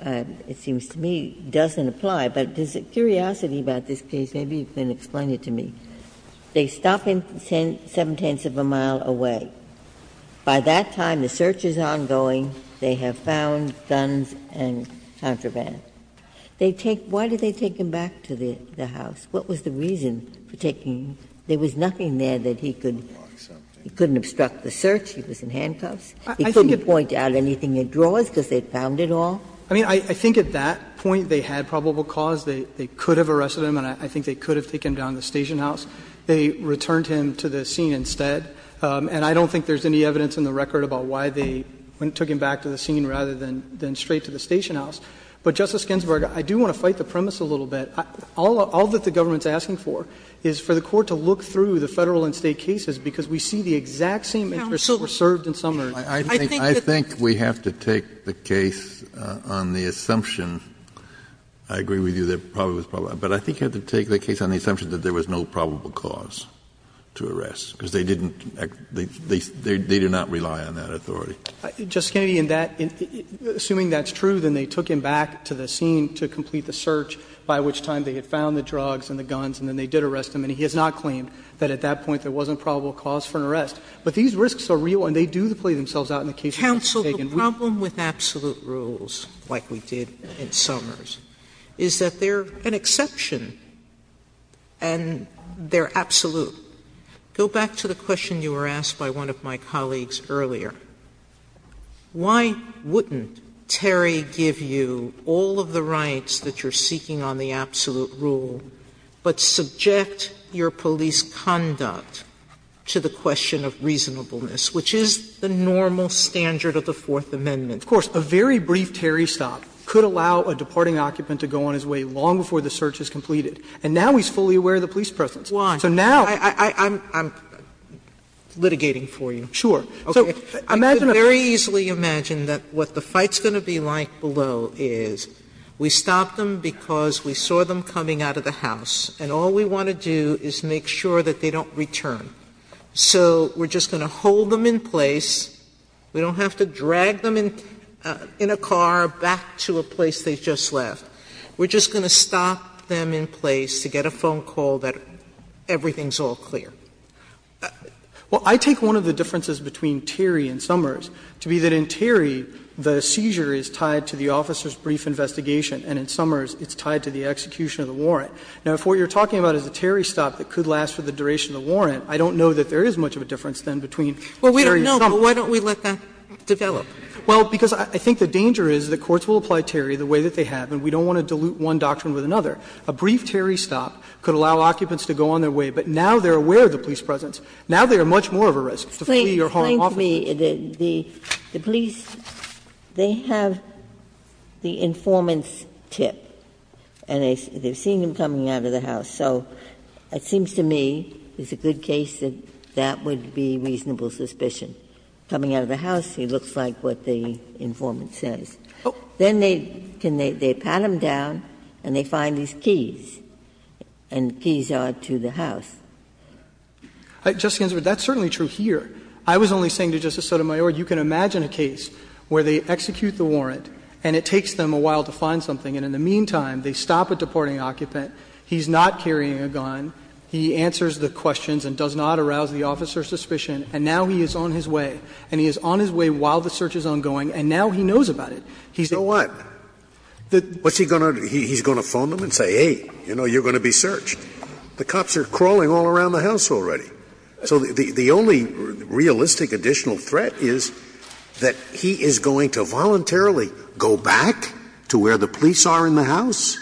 it seems to me, doesn't apply. But there's a curiosity about this case, maybe you can explain it to me. They stop him seven-tenths of a mile away. By that time, the search is ongoing, they have found guns and contraband. They take — why did they take him back to the house? What was the reason for taking him? There was nothing there that he could — he couldn't obstruct the search, he was in handcuffs. He couldn't point out anything in drawers because they found it all? I mean, I think at that point, they had probable cause. They could have arrested him and I think they could have taken him down to the station house. They returned him to the scene instead. And I don't think there's any evidence in the record about why they took him back to the scene rather than straight to the station house. But, Justice Ginsburg, I do want to fight the premise a little bit. All that the government is asking for is for the Court to look through the Federal and State cases because we see the exact same interests were served in Summers. Kennedy, I think we have to take the case on the assumption, I agree with you, that probably was probable, but I think you have to take the case on the assumption that there was no probable cause to arrest because they didn't — they do not rely on that authority. Justice Kennedy, in that — assuming that's true, then they took him back to the scene to complete the search, by which time they had found the drugs and the guns, and then they did arrest him, and he has not claimed that at that point there wasn't probable cause for an arrest. But these risks are real, and they do play themselves out in the cases that are taken. Sotomayor, the problem with absolute rules, like we did in Summers, is that they are an exception, and they are absolute. Go back to the question you were asked by one of my colleagues earlier. Why wouldn't Terry give you all of the rights that you are seeking on the absolute rule, but subject your police conduct to the question of reasonableness, which is the normal standard of the Fourth Amendment? Of course, a very brief Terry stop could allow a departing occupant to go on his way long before the search is completed. And now he's fully aware of the police presence. So now I'm — I'm litigating for you. Sure. So imagine a — You can very easily imagine that what the fight's going to be like below is we stopped them because we saw them coming out of the house, and all we want to do is make sure that they don't return. So we're just going to hold them in place. We don't have to drag them in a car back to a place they just left. We're just going to stop them in place to get a phone call that everything's all clear. Well, I take one of the differences between Terry and Summers to be that in Terry, the seizure is tied to the officer's brief investigation, and in Summers it's tied to the execution of the warrant. Now, if what you're talking about is a Terry stop that could last for the duration of the warrant, I don't know that there is much of a difference, then, between Terry and Summers. Well, we don't know, but why don't we let that develop? Well, because I think the danger is that courts will apply Terry the way that they have, and we don't want to dilute one doctrine with another. A brief Terry stop could allow occupants to go on their way, but now they're aware of the police presence. Now they are much more of a risk to flee or harm officers. Ginsburg Could you explain to me, the police, they have the informant's tip, and they've seen him coming out of the house. So it seems to me it's a good case that that would be reasonable suspicion. Coming out of the house, he looks like what the informant says. Then they pat him down and they find these keys, and the keys are to the house. Justice Ginsburg, that's certainly true here. I was only saying to Justice Sotomayor, you can imagine a case where they execute the warrant and it takes them a while to find something, and in the meantime, they stop a deporting occupant, he's not carrying a gun, he answers the questions and does not arouse the officer's suspicion, and now he is on his way, and he is on his way while the search is ongoing, and now he knows about it. He's a key. Scalia So what? What's he going to do? He's going to phone them and say, hey, you know, you're going to be searched. The cops are crawling all around the house already. So the only realistic additional threat is that he is going to voluntarily go back to where the police are in the house?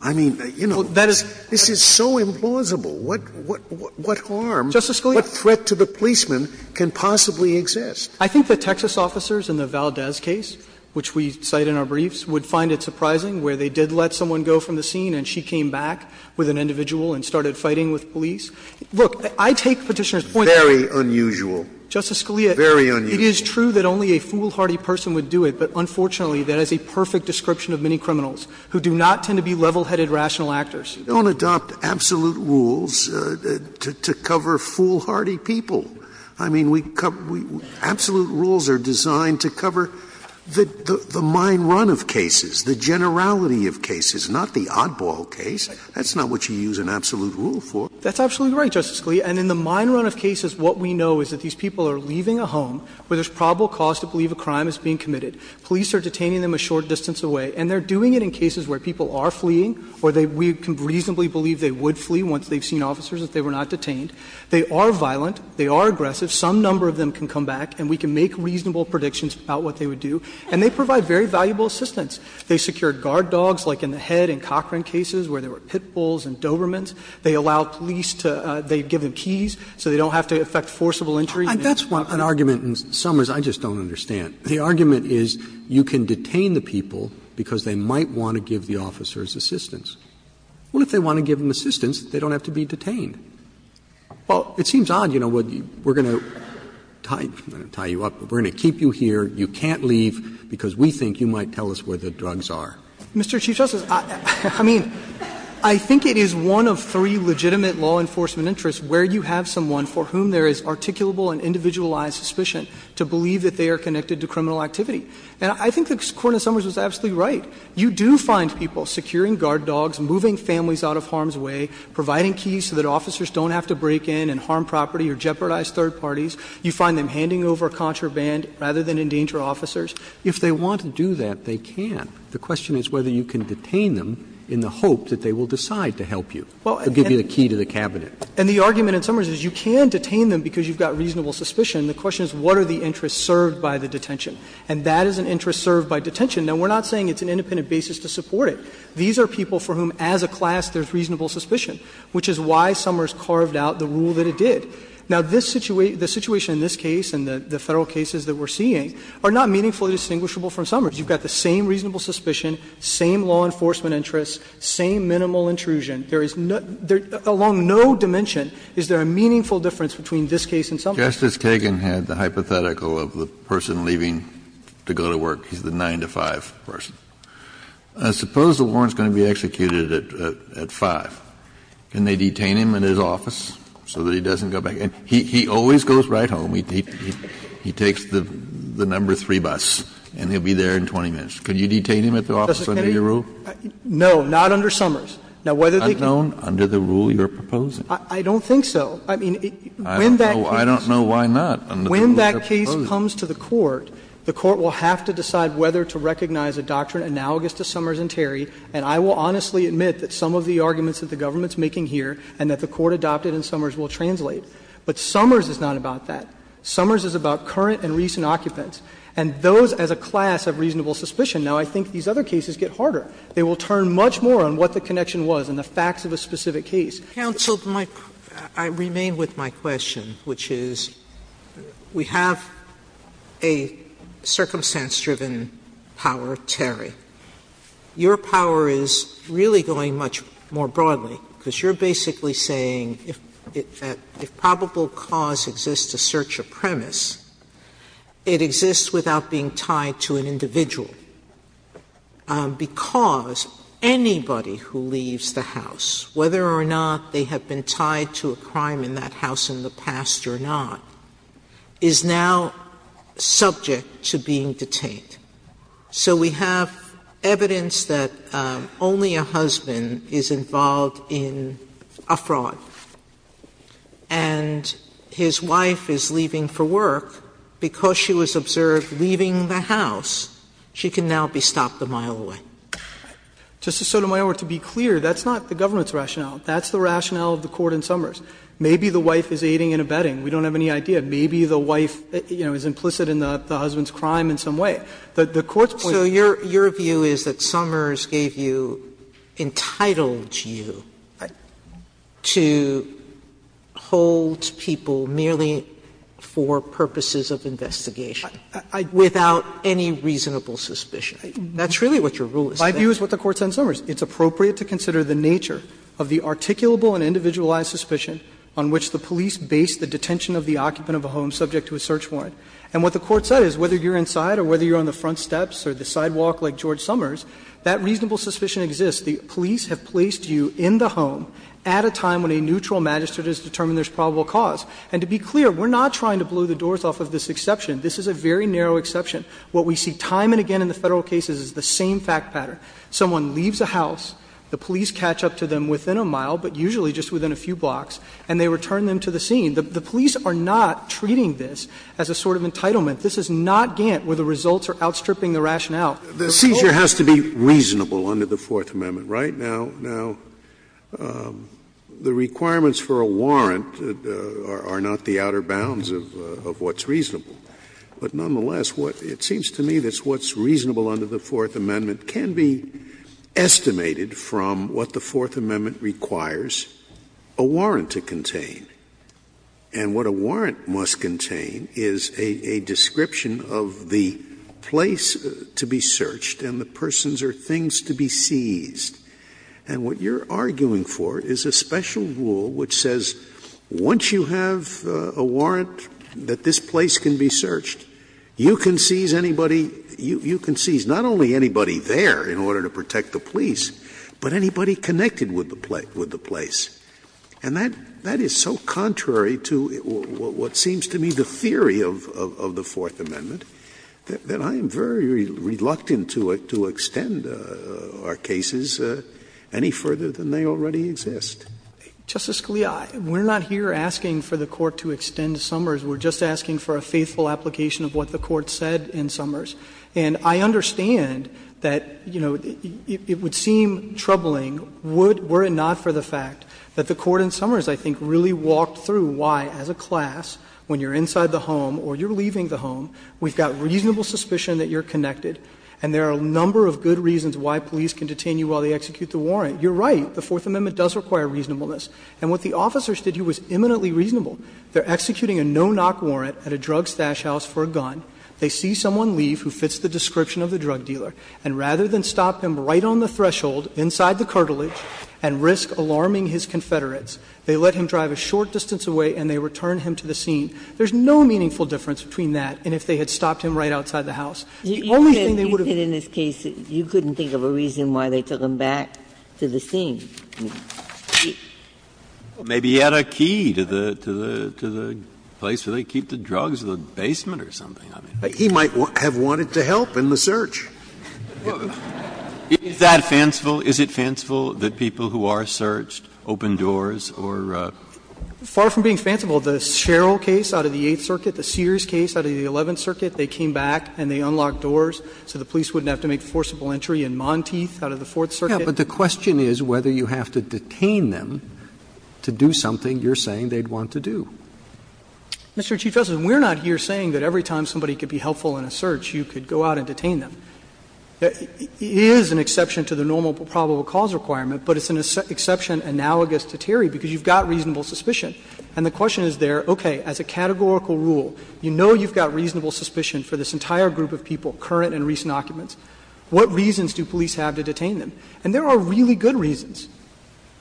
I mean, you know, this is so implausible. What harm, what threat to the policeman can possibly exist? I think the Texas officers in the Valdez case, which we cite in our briefs, would find it surprising where they did let someone go from the scene and she came back with an individual and started fighting with police. Look, I take Petitioner's point very unusual. Justice Scalia, it is true that only a foolhardy person would do it, but unfortunately that is a perfect description of many criminals who do not tend to be level-headed rational actors. Scalia We don't adopt absolute rules to cover foolhardy people. I mean, absolute rules are designed to cover the mind run of cases, the generality of cases, not the oddball case. That's not what you use an absolute rule for. That's absolutely right, Justice Scalia. And in the mind run of cases, what we know is that these people are leaving a home where there is probable cause to believe a crime is being committed. Police are detaining them a short distance away, and they are doing it in cases where people are fleeing or we can reasonably believe they would flee once they have seen officers if they were not detained. They are violent. They are aggressive. Some number of them can come back, and we can make reasonable predictions about what they would do. And they provide very valuable assistance. They secure guard dogs, like in the Head and Cochran cases where there were pitbulls and Dobermans. They allow police to – they give them keys so they don't have to affect forcible entry. Roberts And that's an argument in Summers I just don't understand. The argument is you can detain the people because they might want to give the officers assistance. Well, if they want to give them assistance, they don't have to be detained. Well, it seems odd, you know, we are going to tie you up, but we are going to keep you here. You can't leave because we think you might tell us where the drugs are. Cotugno Mr. Chief Justice, I mean, I think it is one of three legitimate law enforcement interests where you have someone for whom there is articulable and individualized suspicion to believe that they are connected to criminal activity. And I think the Court in Summers was absolutely right. You do find people securing guard dogs, moving families out of harm's way, providing keys so that officers don't have to break in and harm property or jeopardize third parties. You find them handing over contraband rather than endanger officers. Roberts If they want to do that, they can. The question is whether you can detain them in the hope that they will decide to help you or give you the key to the cabinet. Cotugno And the argument in Summers is you can detain them because you have got reasonable suspicion. The question is what are the interests served by the detention. And that is an interest served by detention. Now, we are not saying it's an independent basis to support it. These are people for whom as a class there is reasonable suspicion, which is why Summers carved out the rule that it did. Now, the situation in this case and the Federal cases that we are seeing are not meaningfully distinguishable from Summers. You have got the same reasonable suspicion, same law enforcement interests, same minimal intrusion. There is no – along no dimension is there a meaningful difference between this case and Summers. Kennedy Justice Kagan had the hypothetical of the person leaving to go to work. He is the 9 to 5 person. Suppose the warrant is going to be executed at 5. Can they detain him in his office so that he doesn't go back? He always goes right home. He takes the number 3 bus and he will be there in 20 minutes. Can you detain him at the office under your rule? Cotugno No, not under Summers. Now, whether they can Kennedy I don't know under the rule you are proposing. Cotugno I don't think so. I mean, when that case Kennedy I don't know why not under the rule you are proposing. Cotugno When that case comes to the Court, the Court will have to decide whether to recognize a doctrine analogous to Summers and Terry, and I will honestly admit that some of the arguments that the government is making here and that the Court adopted in Summers will translate, but Summers is not about that. Summers is about current and recent occupants, and those as a class have reasonable suspicion. Now, I think these other cases get harder. They will turn much more on what the connection was and the facts of a specific case. Sotomayor Counsel, I remain with my question, which is we have a circumstance-driven power, Terry. Your power is really going much more broadly, because you are basically saying that if probable cause exists to search a premise, it exists without being tied to an individual, because anybody who leaves the house, whether or not they have been tied to a crime in that house in the past or not, is now subject to being detained. So we have evidence that only a husband is involved in a fraud, and his wife is leaving for work because she was observed leaving the house. She can now be stopped a mile away. Mr. Sotomayor, to be clear, that's not the government's rationale. That's the rationale of the Court in Summers. Maybe the wife is aiding and abetting. We don't have any idea. Maybe the wife, you know, is implicit in the husband's crime in some way. The Court's point is that the wife is involved in the crime in Summers. Sotomayor, your view is that Summers gave you, entitled you to hold people merely for purposes of investigation, without any reasonable suspicion. That's really what your rule is. My view is what the Court said in Summers. It's appropriate to consider the nature of the articulable and individualized suspicion on which the police base the detention of the occupant of a home subject to a search warrant. And what the Court said is whether you're inside or whether you're on the front steps or the sidewalk like George Summers, that reasonable suspicion exists. The police have placed you in the home at a time when a neutral magistrate has determined there's probable cause. And to be clear, we're not trying to blow the doors off of this exception. This is a very narrow exception. What we see time and again in the Federal cases is the same fact pattern. Someone leaves a house, the police catch up to them within a mile, but usually just within a few blocks, and they return them to the scene. The police are not treating this as a sort of entitlement. This is not Gant, where the results are outstripping the rationale. Scalia, the seizure has to be reasonable under the Fourth Amendment, right? Now, the requirements for a warrant are not the outer bounds of what's reasonable. But nonetheless, it seems to me that what's reasonable under the Fourth Amendment can be estimated from what the Fourth Amendment requires a warrant to contain. And what a warrant must contain is a description of the place to be searched and the persons or things to be seized. And what you're arguing for is a special rule which says, once you have a warrant that this place can be searched, you can seize anybody, you can seize not only anybody there in order to protect the police, but anybody connected with the place. And that is so contrary to what seems to me the theory of the Fourth Amendment that I am very reluctant to extend our cases any further than they already exist. Justice Scalia, we're not here asking for the Court to extend Summers. We're just asking for a faithful application of what the Court said in Summers. And I understand that, you know, it would seem troubling were it not for the fact that the Court in Summers, I think, really walked through why, as a class, when you're inside the home or you're leaving the home, we've got reasonable suspicion that you're connected, and there are a number of good reasons why police can detain you while they execute the warrant. You're right, the Fourth Amendment does require reasonableness. And what the officers did here was imminently reasonable. They're executing a no-knock warrant at a drug stash house for a gun. They see someone leave who fits the description of the drug dealer, and rather than stop him right on the threshold inside the cartilage and risk alarming his Confederates, they let him drive a short distance away and they return him to the scene. There's no meaningful difference between that and if they had stopped him right outside the house. The only thing they would have done. Ginsburg. You said in this case you couldn't think of a reason why they took him back to the scene. Maybe he had a key to the place where they keep the drugs, the basement or something. He might have wanted to help in the search. Is that fanciful? Is it fanciful that people who are searched open doors or? Far from being fanciful. The Sherrill case out of the Eighth Circuit, the Sears case out of the Eleventh Circuit, they came back and they unlocked doors so the police wouldn't have to make forcible entry in Monteith out of the Fourth Circuit. But the question is whether you have to detain them to do something you're saying they'd want to do. Mr. Chief Justice, we're not here saying that every time somebody could be helpful in a search, you could go out and detain them. It is an exception to the normal probable cause requirement, but it's an exception analogous to Terry because you've got reasonable suspicion. And the question is there, okay, as a categorical rule, you know you've got reasonable suspicion for this entire group of people, current and recent occupants. What reasons do police have to detain them? And there are really good reasons.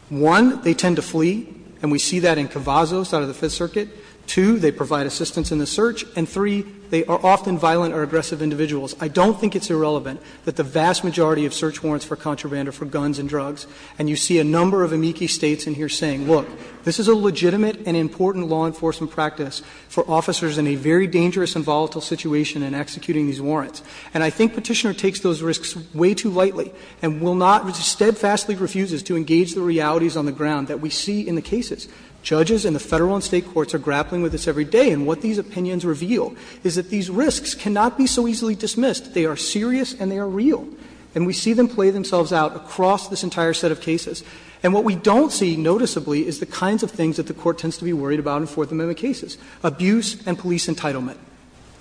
One, they tend to flee, and we see that in Cavazos out of the Fifth Circuit. Two, they provide assistance in the search. And three, they are often violent or aggressive individuals. I don't think it's irrelevant that the vast majority of search warrants for contraband are for guns and drugs, and you see a number of amici States in here saying, look, this is a legitimate and important law enforcement practice for officers in a very dangerous and volatile situation in executing these warrants. And I think Petitioner takes those risks way too lightly and will not, steadfastly refuses to engage the realities on the ground that we see in the cases. Judges in the Federal and State courts are grappling with this every day, and what these opinions reveal is that these risks cannot be so easily dismissed. They are serious and they are real, and we see them play themselves out across this entire set of cases. And what we don't see noticeably is the kinds of things that the Court tends to be worried about in Fourth Amendment cases, abuse and police entitlement.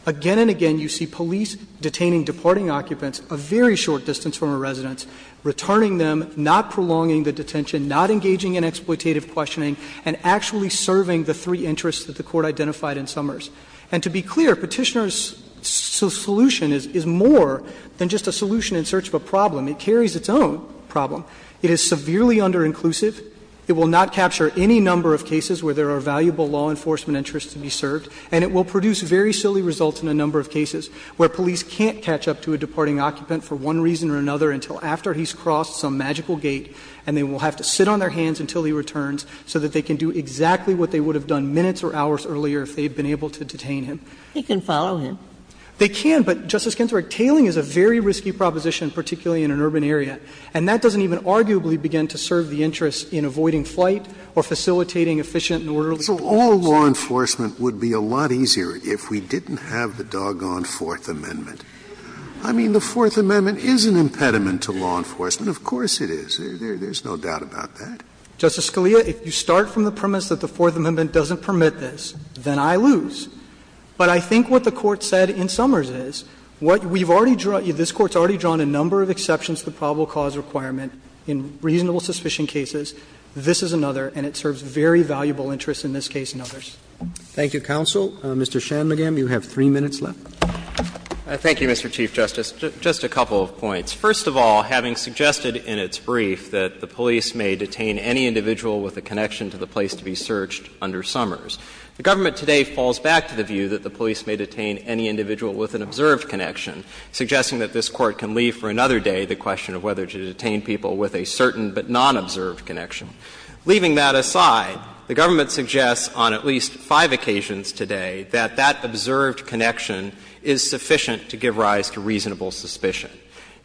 Again and again, you see police detaining departing occupants a very short distance from a residence, returning them, not prolonging the detention, not engaging in exploitative And to be clear, Petitioner's solution is more than just a solution in search of a problem. It carries its own problem. It is severely underinclusive. It will not capture any number of cases where there are valuable law enforcement interests to be served, and it will produce very silly results in a number of cases where police can't catch up to a departing occupant for one reason or another until after he's crossed some magical gate, and they will have to sit on their hands until he returns so that they can do exactly what they would have done minutes or hours earlier if they had been able to detain him. Ginsburg. He can follow him. They can, but, Justice Ginsburg, tailing is a very risky proposition, particularly in an urban area. And that doesn't even arguably begin to serve the interests in avoiding flight or facilitating efficient and orderly detention. Scalia. So all law enforcement would be a lot easier if we didn't have the doggone Fourth Amendment. I mean, the Fourth Amendment is an impediment to law enforcement. Of course it is. There's no doubt about that. Justice Scalia, if you start from the premise that the Fourth Amendment doesn't permit this, then I lose. But I think what the Court said in Summers is, what we've already drawn – this Court's already drawn a number of exceptions to the probable cause requirement in reasonable suspicion cases. This is another, and it serves very valuable interests in this case and others. Thank you, counsel. Mr. Shanmugam, you have three minutes left. Thank you, Mr. Chief Justice. Just a couple of points. First of all, having suggested in its brief that the police may detain any individual with a connection to the place to be searched under Summers, the government today falls back to the view that the police may detain any individual with an observed connection, suggesting that this Court can leave for another day the question of whether to detain people with a certain but non-observed connection. Leaving that aside, the government suggests on at least five occasions today that that observed connection is sufficient to give rise to reasonable suspicion.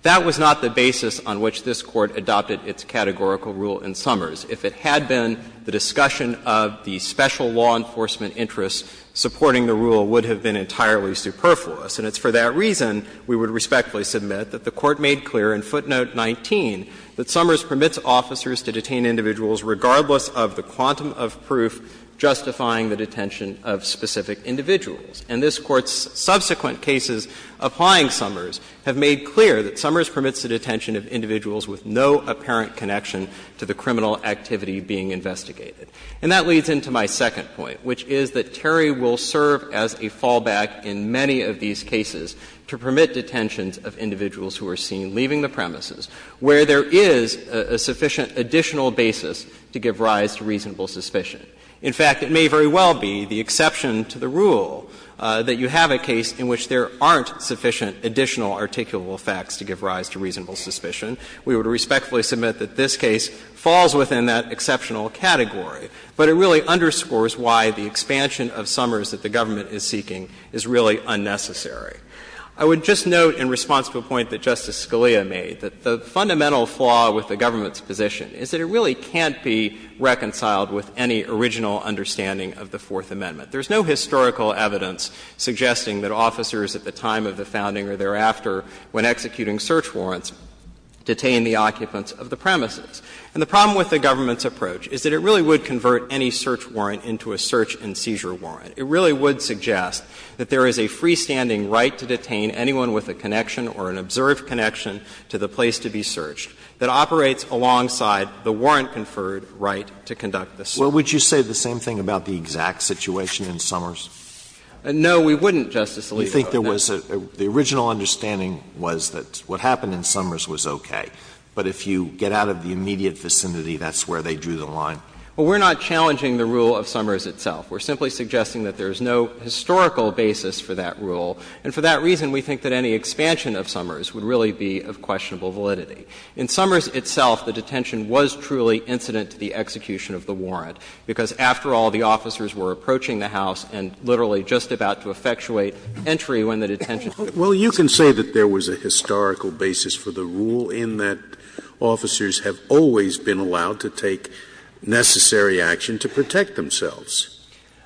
That was not the basis on which this Court adopted its categorical rule in Summers. If it had been, the discussion of the special law enforcement interests supporting the rule would have been entirely superfluous. And it's for that reason we would respectfully submit that the Court made clear in footnote 19 that Summers permits officers to detain individuals regardless of the quantum of proof justifying the detention of specific individuals. And this Court's subsequent cases applying Summers have made clear that Summers permits the detention of individuals with no apparent connection to the criminal activity being investigated. And that leads into my second point, which is that Terry will serve as a fallback in many of these cases to permit detentions of individuals who are seen leaving the premises where there is a sufficient additional basis to give rise to reasonable suspicion. In fact, it may very well be the exception to the rule that you have a case in which there aren't sufficient additional articulable facts to give rise to reasonable suspicion. We would respectfully submit that this case falls within that exceptional category, but it really underscores why the expansion of Summers that the government is seeking is really unnecessary. I would just note in response to a point that Justice Scalia made, that the fundamental flaw with the government's position is that it really can't be reconciled with any original understanding of the Fourth Amendment. There's no historical evidence suggesting that officers at the time of the founding or thereafter when executing search warrants detained the occupants of the premises. And the problem with the government's approach is that it really would convert any search warrant into a search and seizure warrant. It really would suggest that there is a freestanding right to detain anyone with a connection or an observed connection to the place to be searched that operates alongside the warrant-conferred right to conduct the search. Alito, would you say the same thing about the exact situation in Summers? No, we wouldn't, Justice Alito. You think there was a — the original understanding was that what happened in Summers was okay, but if you get out of the immediate vicinity, that's where they drew the line? Well, we're not challenging the rule of Summers itself. We're simply suggesting that there is no historical basis for that rule, and for that reason, we think that any expansion of Summers would really be of questionable validity. In Summers itself, the detention was truly incident to the execution of the warrant, because after all, the officers were approaching the house and literally just about to effectuate entry when the detention was taking place. Well, you can say that there was a historical basis for the rule in that officers have always been allowed to take necessary action to protect themselves.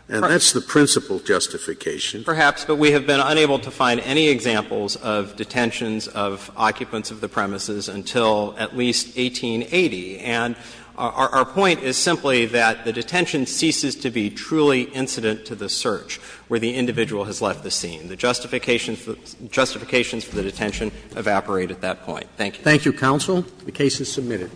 And that's the principal justification. Perhaps, but we have been unable to find any examples of detentions of occupants of the premises until at least 1880. And our point is simply that the detention ceases to be truly incident to the search where the individual has left the scene. The justifications for the detention evaporate at that point. Thank you. Thank you, counsel. The case is submitted.